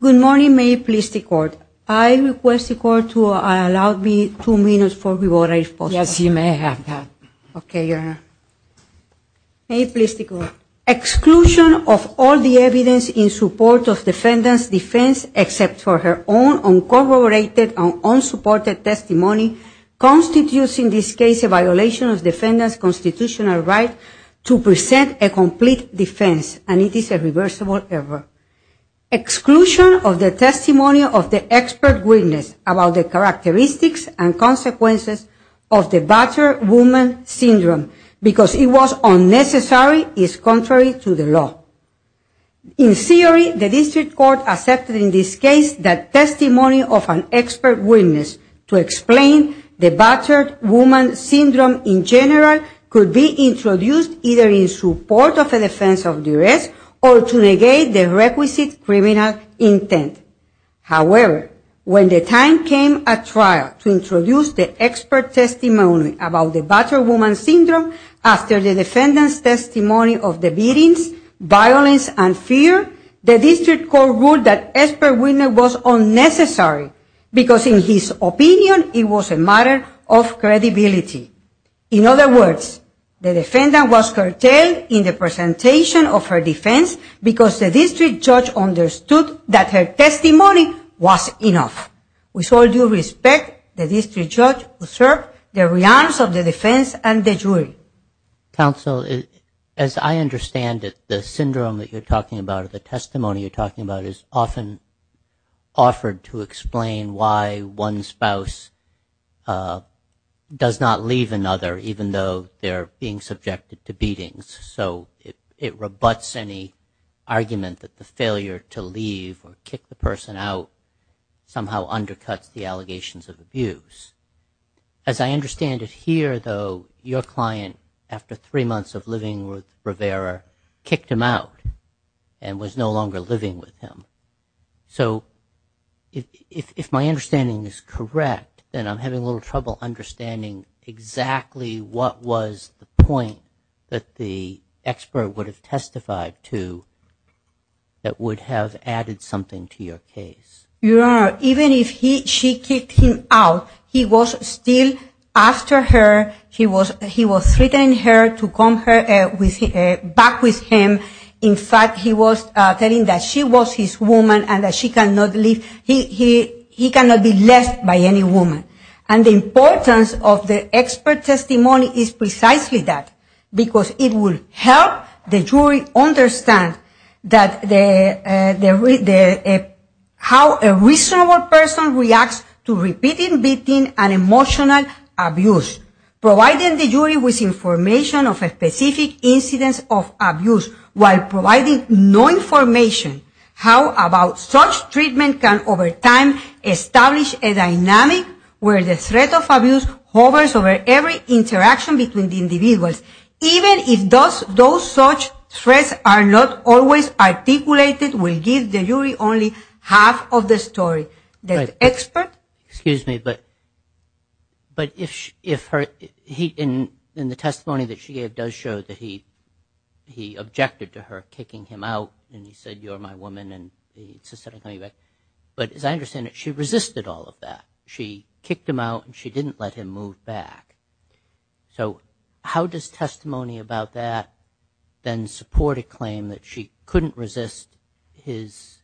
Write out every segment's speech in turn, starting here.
Good morning, may it please the court. I request the court to allow me two minutes before we vote on this motion. Yes, you may have that. Okay, your honor. May it please the court. Exclusion of all the evidence in support of defendant's defense except for her own uncorroborated and unsupported testimony constitutes in this case a violation of defendant's constitutional right to present a complete defense and it is a reversible error. Exclusion of the testimony of the expert witness about the characteristics and consequences of the battered woman syndrome because it was unnecessary is contrary to the law. In theory, the district court accepted in this case that testimony of an expert witness to explain the battered woman syndrome in general could be introduced either in support of a defense of duress or to negate the requisite criminal intent. However, when the time came at trial to introduce the expert testimony about the battered woman syndrome after the defendant's testimony of the beatings, violence, and fear, the district court ruled that expert witness was unnecessary because in his opinion it was a matter of credibility. In other words, the defendant was curtailed in the presentation of her defense because the district judge understood that her testimony was enough. With all due respect, the district judge observed the reality of the defense and the jury. Counsel, as I understand it, the syndrome that you're talking about or the testimony you're talking about is often offered to explain why one spouse does not leave another even though they're being subjected to beatings. So it rebuts any argument that the failure to leave or kick the person out somehow undercuts the allegations of abuse. As I understand it here, though, your client, after three months of living with Rivera, kicked him out and was no longer living with him. So if my understanding is correct, then I'm having a little trouble understanding exactly what was the point that the expert would have testified to that would have added something to your case. Your Honor, even if she kicked him out, he was still after her, he was threatening her to come back with him. In fact, he was telling that she was his woman and that he cannot be left by any woman. And the importance of the expert testimony is precisely that, because it would help the jury understand how a reasonable person reacts to repeated beating and emotional abuse. Providing the jury with information of a specific incidence of abuse while providing no information, how about such treatment can over time establish a dynamic where the threat of abuse hovers over every interaction between the individuals. Even if those such threats are not always articulated will give the jury only half of the story. Excuse me, but in the testimony that she gave does show that he objected to her kicking him out and he said, you're my woman, and he said, I'm coming back. But as I understand it, she resisted all of that. She kicked him out and she didn't let him move back. So how does testimony about that then support a claim that she couldn't resist his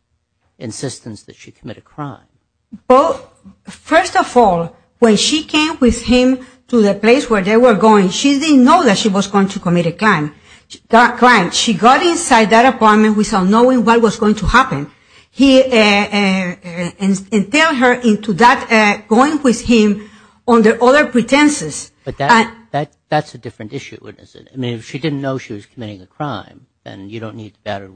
insistence that she commit a crime? Well, first of all, when she came with him to the place where they were going, she didn't know that she was going to commit a crime. She got inside that apartment without knowing what was going to happen. He entailed her into that, going with him under other pretenses. But that's a different issue, isn't it? I mean, if she didn't know she was committing a crime, then you don't need the battered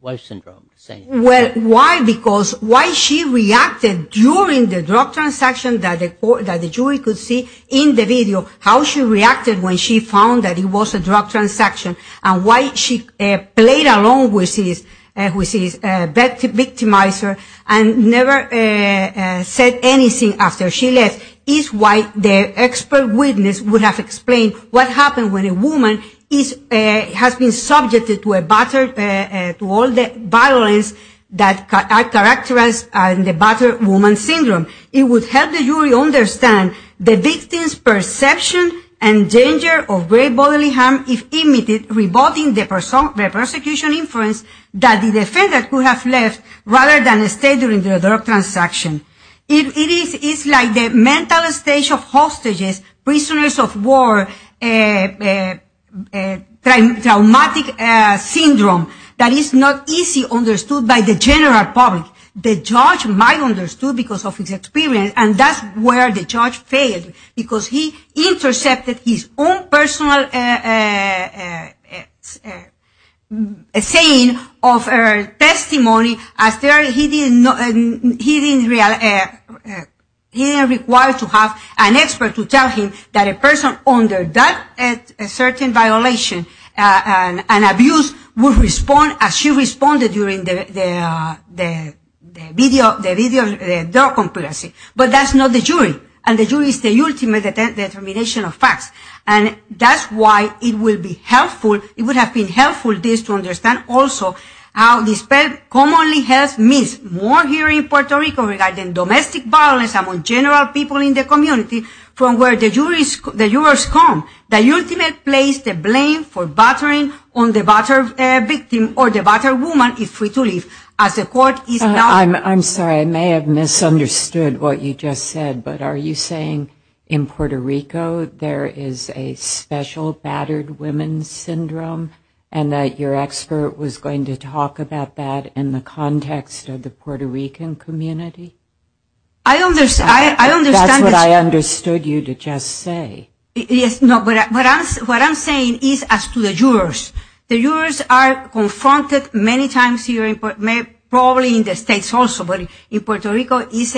wife syndrome to say anything. Well, why? Because why she reacted during the drug transaction that the jury could see in the video, how she reacted when she found that it was a drug transaction, and why she played along with his victimizer and never said anything after she left, is why the expert witness would have explained what happened when a woman has been subjected to all the violence that are characterized in the battered woman syndrome. It would help the jury understand the victim's perception and danger of grave bodily harm if imitated, revolting the prosecution inference that the defendant could have left rather than stay during the drug transaction. It is like the mental state of hostages, prisoners of war, traumatic syndrome, that is not easily understood by the general public. The judge might have understood because of his experience, and that's where the judge failed, because he intercepted his own personal saying of her testimony. He didn't require to have an expert to tell him that a person under that certain violation and abuse would respond as she responded during the video, but that's not the jury, and the jury is the ultimate determination of facts, and that's why it would have been helpful to understand also how the expert commonly has missed more here in Puerto Rico regarding domestic violence among general people in the community from where the jurors come. The ultimate place to blame for battering on the battered victim or the battered woman is free to leave as the court is not. I'm sorry, I may have misunderstood what you just said, but are you saying in Puerto Rico there is a special battered women's syndrome and that your expert was going to talk about that in the context of the Puerto Rican community? I understand. That's what I understood you to just say. What I'm saying is as to the jurors, the jurors are confronted many times here, probably in the States also, but in Puerto Rico it's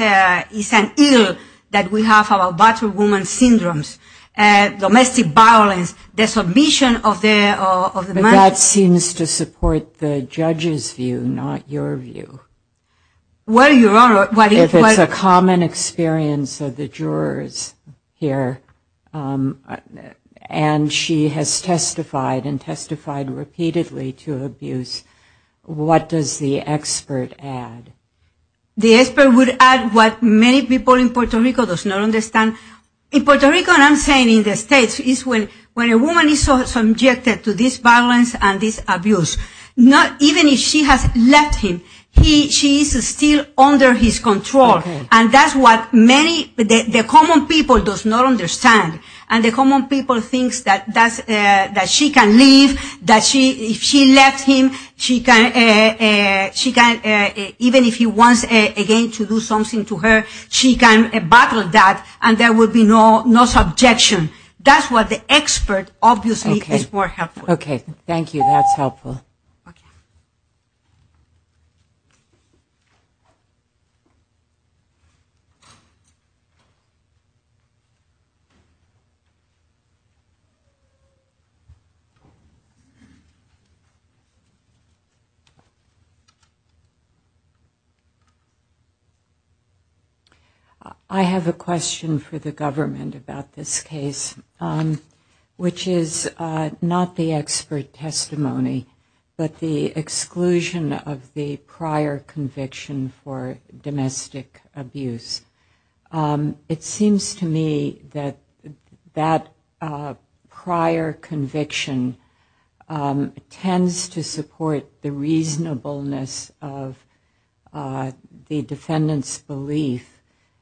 an ill that we have about battered women's syndromes, domestic violence, the submission of the money. But that seems to support the judge's view, not your view. If it's a common experience of the jurors here and she has testified and testified repeatedly to abuse, what does the expert add? The expert would add what many people in Puerto Rico does not understand. In Puerto Rico, and I'm saying in the States, is when a woman is subjected to this violence and this abuse, even if she has left him, she is still under his control. And that's what many, the common people does not understand. And the common people thinks that she can leave, that if she left him, even if he wants again to do something to her, she can battle that and there will be no subjection. That's what the expert obviously is more helpful. Okay, thank you, that's helpful. I have a question for the government about this case, which is not the expert testimony, but the exclusion of the prior conviction for domestic abuse. It seems to me that that prior conviction tends to support the reasonableness of the defendant's belief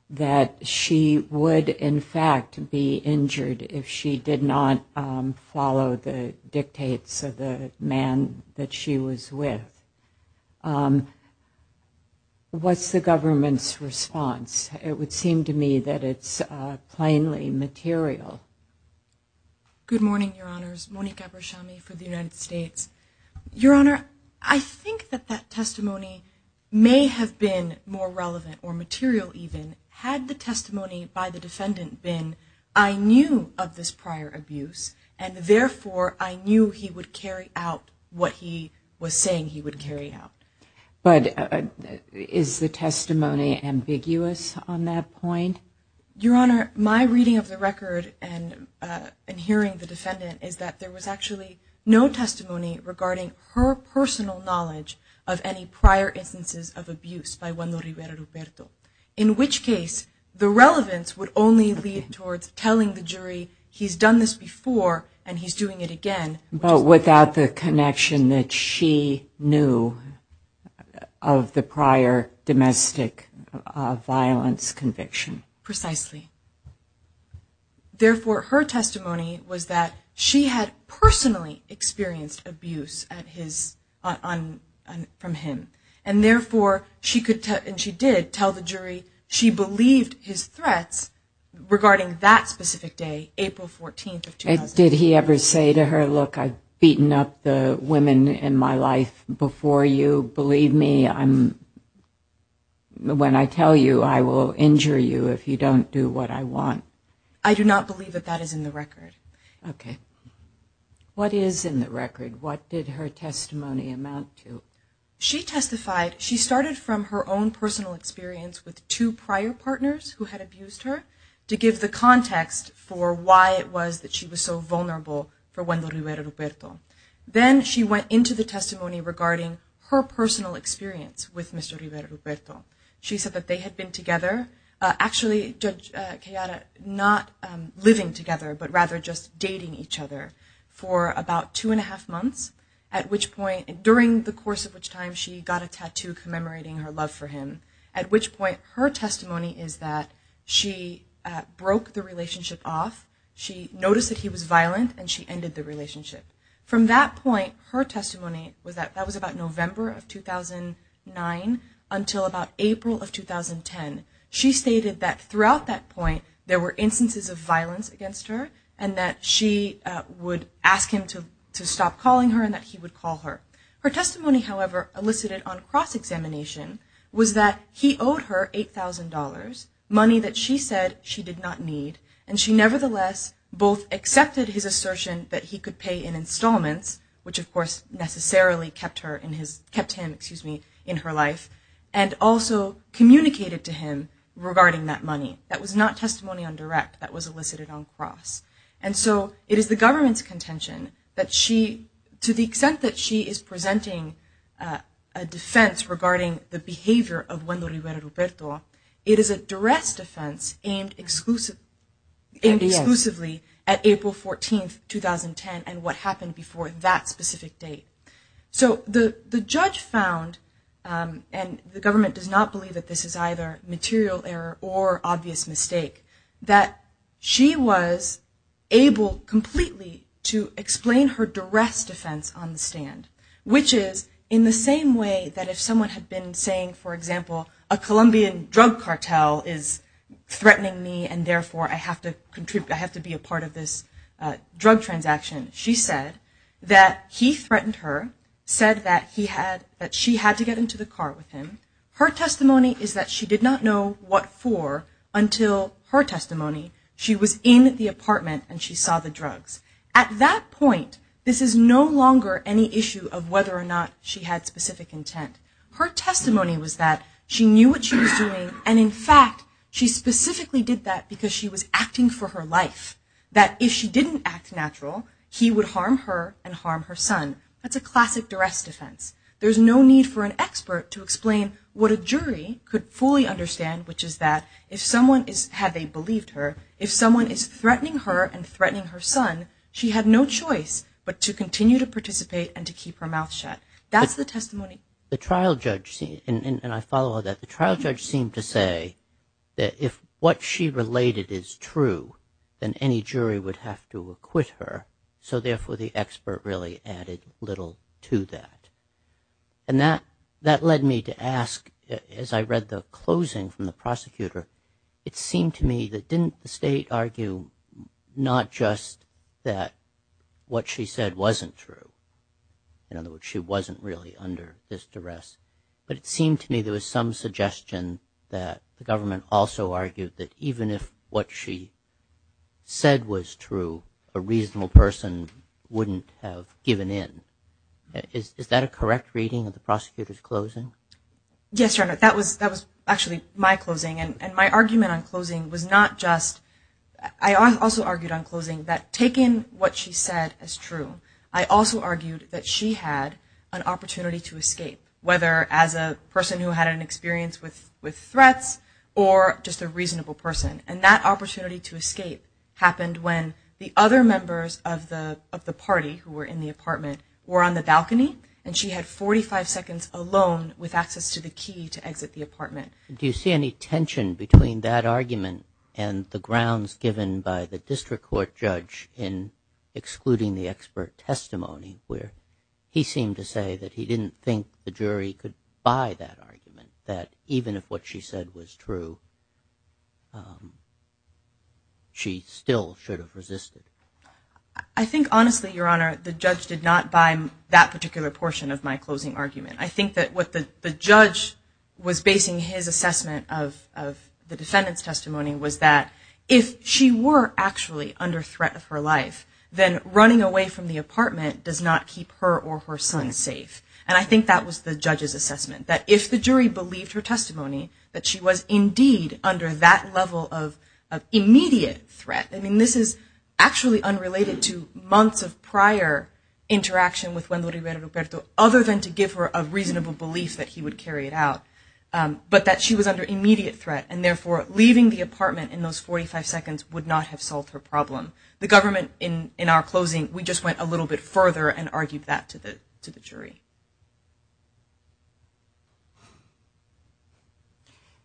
that she would in fact be injured if she did not follow the dictates of the man that she was with. What's the government's response? It would seem to me that it's plainly material. Good morning, Your Honors. Monique Abershami for the United States. Your Honor, I think that that testimony may have been more relevant or material even, had the testimony by the defendant been, I knew of this prior abuse, and therefore I knew he would carry out what he was saying he would carry out. But is the testimony ambiguous on that point? Your Honor, my reading of the record and hearing the defendant is that there was actually no testimony regarding her personal knowledge of any prior instances of abuse by Juan Roberto. In which case, the relevance would only lead towards telling the jury he's done this before and he's doing it again. But without the connection that she knew of the prior domestic violence conviction. Precisely. Therefore, her testimony was that she had personally experienced abuse from him. And therefore, she did tell the jury she believed his threats regarding that specific day, April 14th of 2001. Did he ever say to her, look, I've beaten up the women in my life before you. Believe me, when I tell you, I will injure you if you don't do what I want. I do not believe that that is in the record. Okay. What is in the record? What did her testimony amount to? She testified, she started from her own personal experience with two prior partners who had abused her. To give the context for why it was that she was so vulnerable for Juan Roberto. Then she went into the testimony regarding her personal experience with Mr. Roberto. She said that they had been together. Actually, not living together, but rather just dating each other for about two and a half months. During the course of which time she got a tattoo commemorating her love for him. At which point, her testimony is that she broke the relationship off. She noticed that he was violent and she ended the relationship. From that point, her testimony was that that was about November of 2009 until about April of 2010. She stated that throughout that point there were instances of violence against her. And that she would ask him to stop calling her and that he would call her. Her testimony, however, elicited on cross-examination was that he owed her $8,000. Money that she said she did not need. And she nevertheless both accepted his assertion that he could pay in installments, which of course necessarily kept him in her life, and also communicated to him regarding that money. That was not testimony on direct, that was elicited on cross. And so it is the government's contention that she, to the extent that she is presenting a defense regarding the behavior of Wendo Rivera Ruperto, it is a duress defense aimed exclusively at April 14, 2010 and what happened before that specific date. So the judge found, and the government does not believe that this is either material error or obvious mistake, that she was able completely to explain her duress defense on the stand. Which is in the same way that if someone had been saying, for example, a Colombian drug cartel is threatening me and therefore I have to be a part of this drug transaction. She said that he threatened her, said that she had to get into the car with him. Her testimony is that she did not know what for until her testimony. She was in the apartment and she saw the drugs. At that point, this is no longer any issue of whether or not she had specific intent. Her testimony was that she knew what she was doing, and in fact, she specifically did that because she was acting for her life. That if she didn't act natural, he would harm her and harm her son. That's a classic duress defense. There's no need for an expert to explain what a jury could fully understand, which is that if someone, had they believed her, if someone is threatening her and threatening her son, she had no choice but to continue to participate and to keep her mouth shut. That's the testimony. The trial judge seemed to say that if what she related is true, then any jury would have to acquit her, so therefore the expert really added little to that. That led me to ask, as I read the closing from the prosecutor, it seemed to me that didn't the state argue not just that what she said wasn't true? In other words, she wasn't really under this duress. But it seemed to me there was some suggestion that the government also argued that even if what she said was true, a reasonable person wouldn't have given in. Is that a correct reading of the prosecutor's closing? Yes, that was actually my closing, and my argument on closing was not just... I also argued on closing that taking what she said as true, I also argued that she had an opportunity to escape, whether as a person who had an experience with threats or just a reasonable person. And that opportunity to escape happened when the other members of the party who were in the apartment were on the balcony, and she had 45 seconds alone with access to the key to exit the apartment. Do you see any tension between that argument and the grounds given by the district court judge in excluding the expert testimony, where he seemed to say that he didn't think the jury could buy that argument, that even if what she said was true, she still should have resisted? I think honestly, Your Honor, the judge did not buy that particular portion of my closing argument. I think that what the judge was basing his assessment of the defendant's testimony was that if she were actually under threat of her life, then running away from the apartment does not keep her or her son safe. And I think that was the judge's assessment, that if the jury believed her testimony, that she was indeed under that level of immediate threat. I mean, this is actually unrelated to months of prior interaction with Wendo Rivera Ruperto, other than to give her a reasonable belief that he would carry it out, but that she was under immediate threat, and therefore leaving the apartment in those 45 seconds would not have solved her problem. The government, in our closing, we just went a little bit further and argued that to the jury.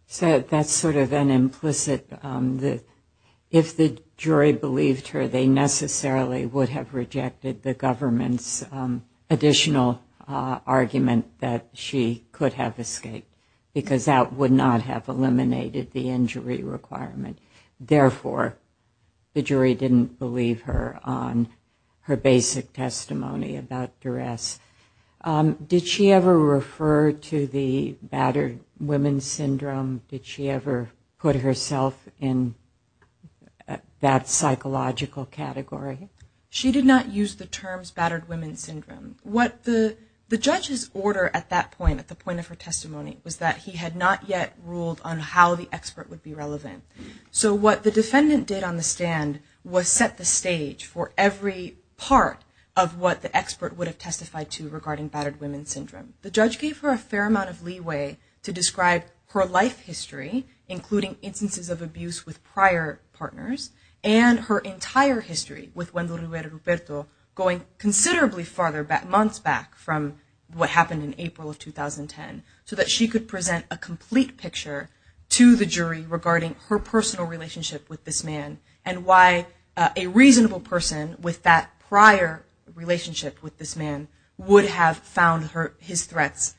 So that's sort of an implicit, if the jury believed her, they necessarily would have rejected the government's additional argument that she could have escaped, because that would not have eliminated the injury requirement. And therefore, the jury didn't believe her on her basic testimony about duress. Did she ever refer to the battered women syndrome? Did she ever put herself in that psychological category? She did not use the terms battered women syndrome. What the judge's order at that point, at the point of her testimony, was that he had not yet ruled on how the expert would be relevant. So what the defendant did on the stand was set the stage for every part of what the expert would have testified to regarding battered women syndrome. The judge gave her a fair amount of leeway to describe her life history, including instances of abuse with prior partners, and her entire history with Wendell Roberto, going considerably farther back, months back, from what happened in April of 2010, so that she could present a complete picture to the jury regarding her personal relationship with this man, and why a reasonable person with that prior relationship with this man would have found his threats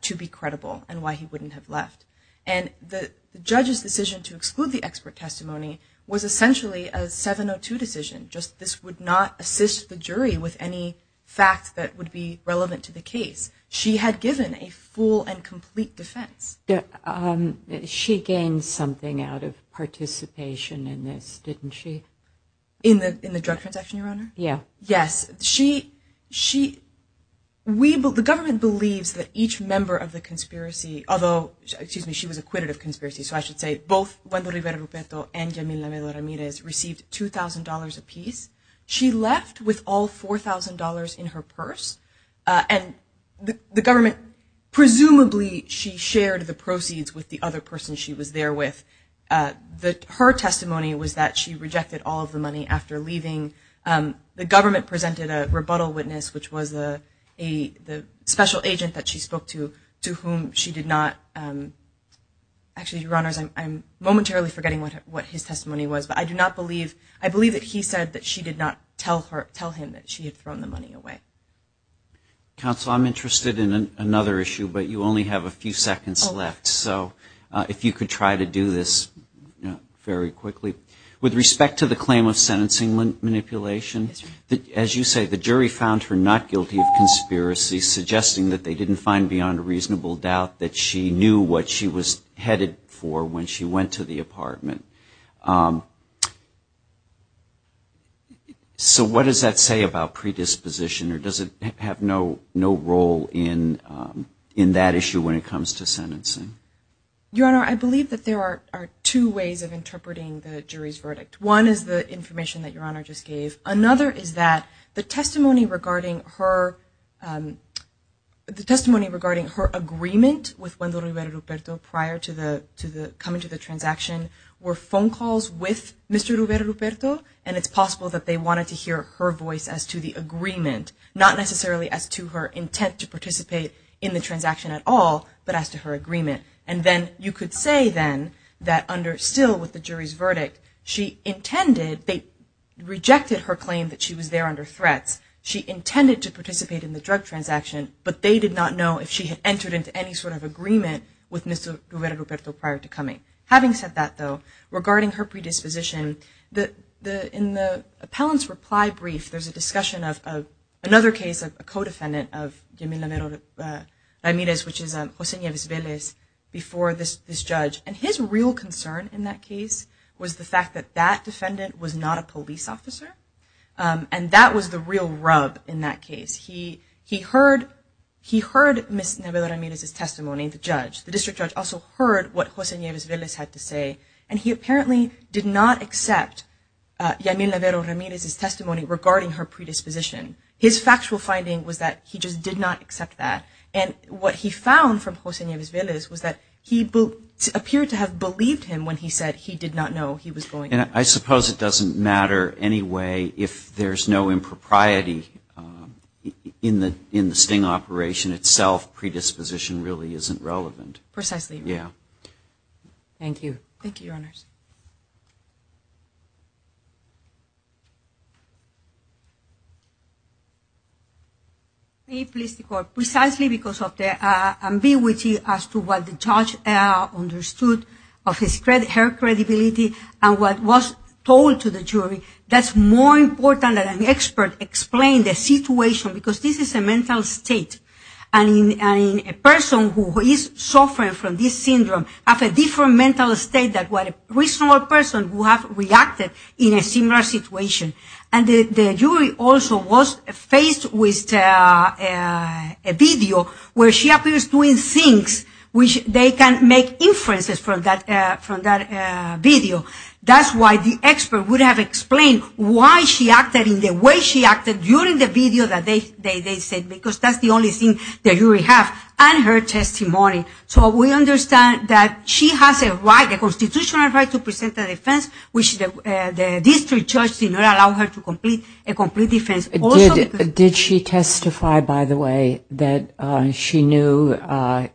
to be credible, and why he wouldn't have left. And the judge's decision to exclude the expert testimony was essentially a 702 decision, just this would not assist the jury with any facts that would be relevant to the case. She had given a full and complete defense. She gained something out of participation in this, didn't she? In the drug transaction, Your Honor? Yeah. Yes. The government believes that each member of the conspiracy, although, excuse me, she was acquitted of conspiracy, so I should say both Wendell Roberto and Yamila Ramirez received $2,000 apiece. She left with all $4,000 in her purse, and the government, presumably, she shared the proceeds with the other person she was there with. Her testimony was that she rejected all of the money after leaving. The government presented a rebuttal witness, which was a special agent that she spoke to, to whom she did not, actually, Your Honors, I'm momentarily forgetting what his testimony was, but I do not believe, I believe that he said that she did not tell him that she had thrown the money away. Counsel, I'm interested in another issue, but you only have a few seconds left, so if you could try to do this very quickly. With respect to the claim of sentencing manipulation, as you say, the jury found her not guilty of conspiracy, suggesting that they didn't find beyond a reasonable doubt that she knew what she was headed for when she went to the apartment. So what does that say about predisposition, or does it have no role in that issue when it comes to sentencing? Your Honor, I believe that there are two ways of interpreting the jury's verdict. One is the information that Your Honor just gave. Another is that the testimony regarding her, the testimony regarding her agreement with Juan Roberto Ruperto prior to coming to the transaction were phone calls with Mr. Roberto Ruperto, and it's possible that they wanted to hear her voice as to the agreement, not necessarily as to her intent to participate in the transaction at all, but as to her agreement. And then you could say, then, that under, still with the jury's verdict, she intended, they rejected her claim that she was there under threats. She intended to participate in the drug transaction, but they did not know if she had entered into any sort of agreement with Mr. Roberto Ruperto prior to coming. Having said that, though, regarding her predisposition, in the appellant's reply brief, there's a discussion of another case, a co-defendant of Yamila Ramirez, which is José Nieves Vélez, before this judge. And his real concern in that case was the fact that that defendant was not a police officer, and that was the real rub in that case. He heard Ms. Navero Ramirez's testimony, the judge. The district judge also heard what José Nieves Vélez had to say, and he apparently did not accept Yamila Ramirez's testimony regarding her predisposition. His factual finding was that he just did not accept that. And what he found from José Nieves Vélez was that he appeared to have believed him when he said he did not know he was going there. And I suppose it doesn't matter anyway if there's no impropriety in the sting operation itself. Predisposition really isn't relevant. Precisely. Yeah. Thank you. Thank you, Your Honors. May it please the Court. Precisely because of the ambiguity as to what the judge understood of her credibility and what was told to the jury, that's more important that an expert explain the situation, because this is a mental state. And a person who is suffering from this syndrome has a different mental state than a reasonable person who has reacted in a similar situation. And the jury also was faced with a video where she appears doing things which they can make inferences from that video. That's why the expert would have explained why she acted in the way she acted during the video that they said, because that's the only thing the jury has, and her testimony. So we understand that she has a constitutional right to present a defense, which the district judge did not allow her to complete a complete defense. Did she testify, by the way, that she knew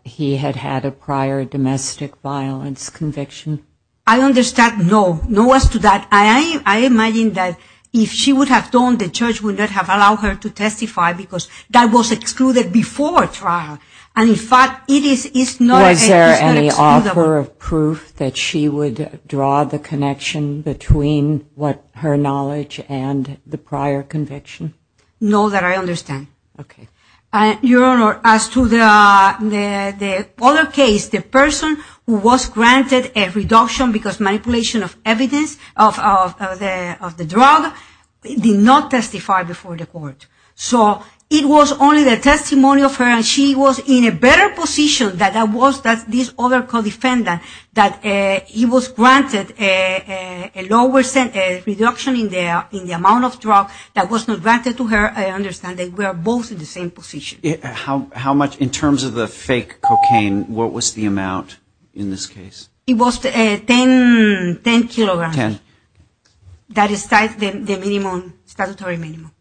he had had a prior domestic violence conviction? I understand no. No as to that. I imagine that if she would have done, the judge would not have allowed her to testify because that was excluded before trial. Was there any offer of proof that she would draw the connection between what her knowledge and the prior conviction? No, that I understand. Okay. Your Honor, as to the other case, the person who was granted a reduction because manipulation of evidence of the drug did not testify before the court. So it was only the testimony of her, and she was in a better position than this other co-defendant that he was granted a reduction in the amount of drugs that was not granted to her. I understand they were both in the same position. In terms of the fake cocaine, what was the amount in this case? It was 10 kilograms. Ten. The statutory minimum.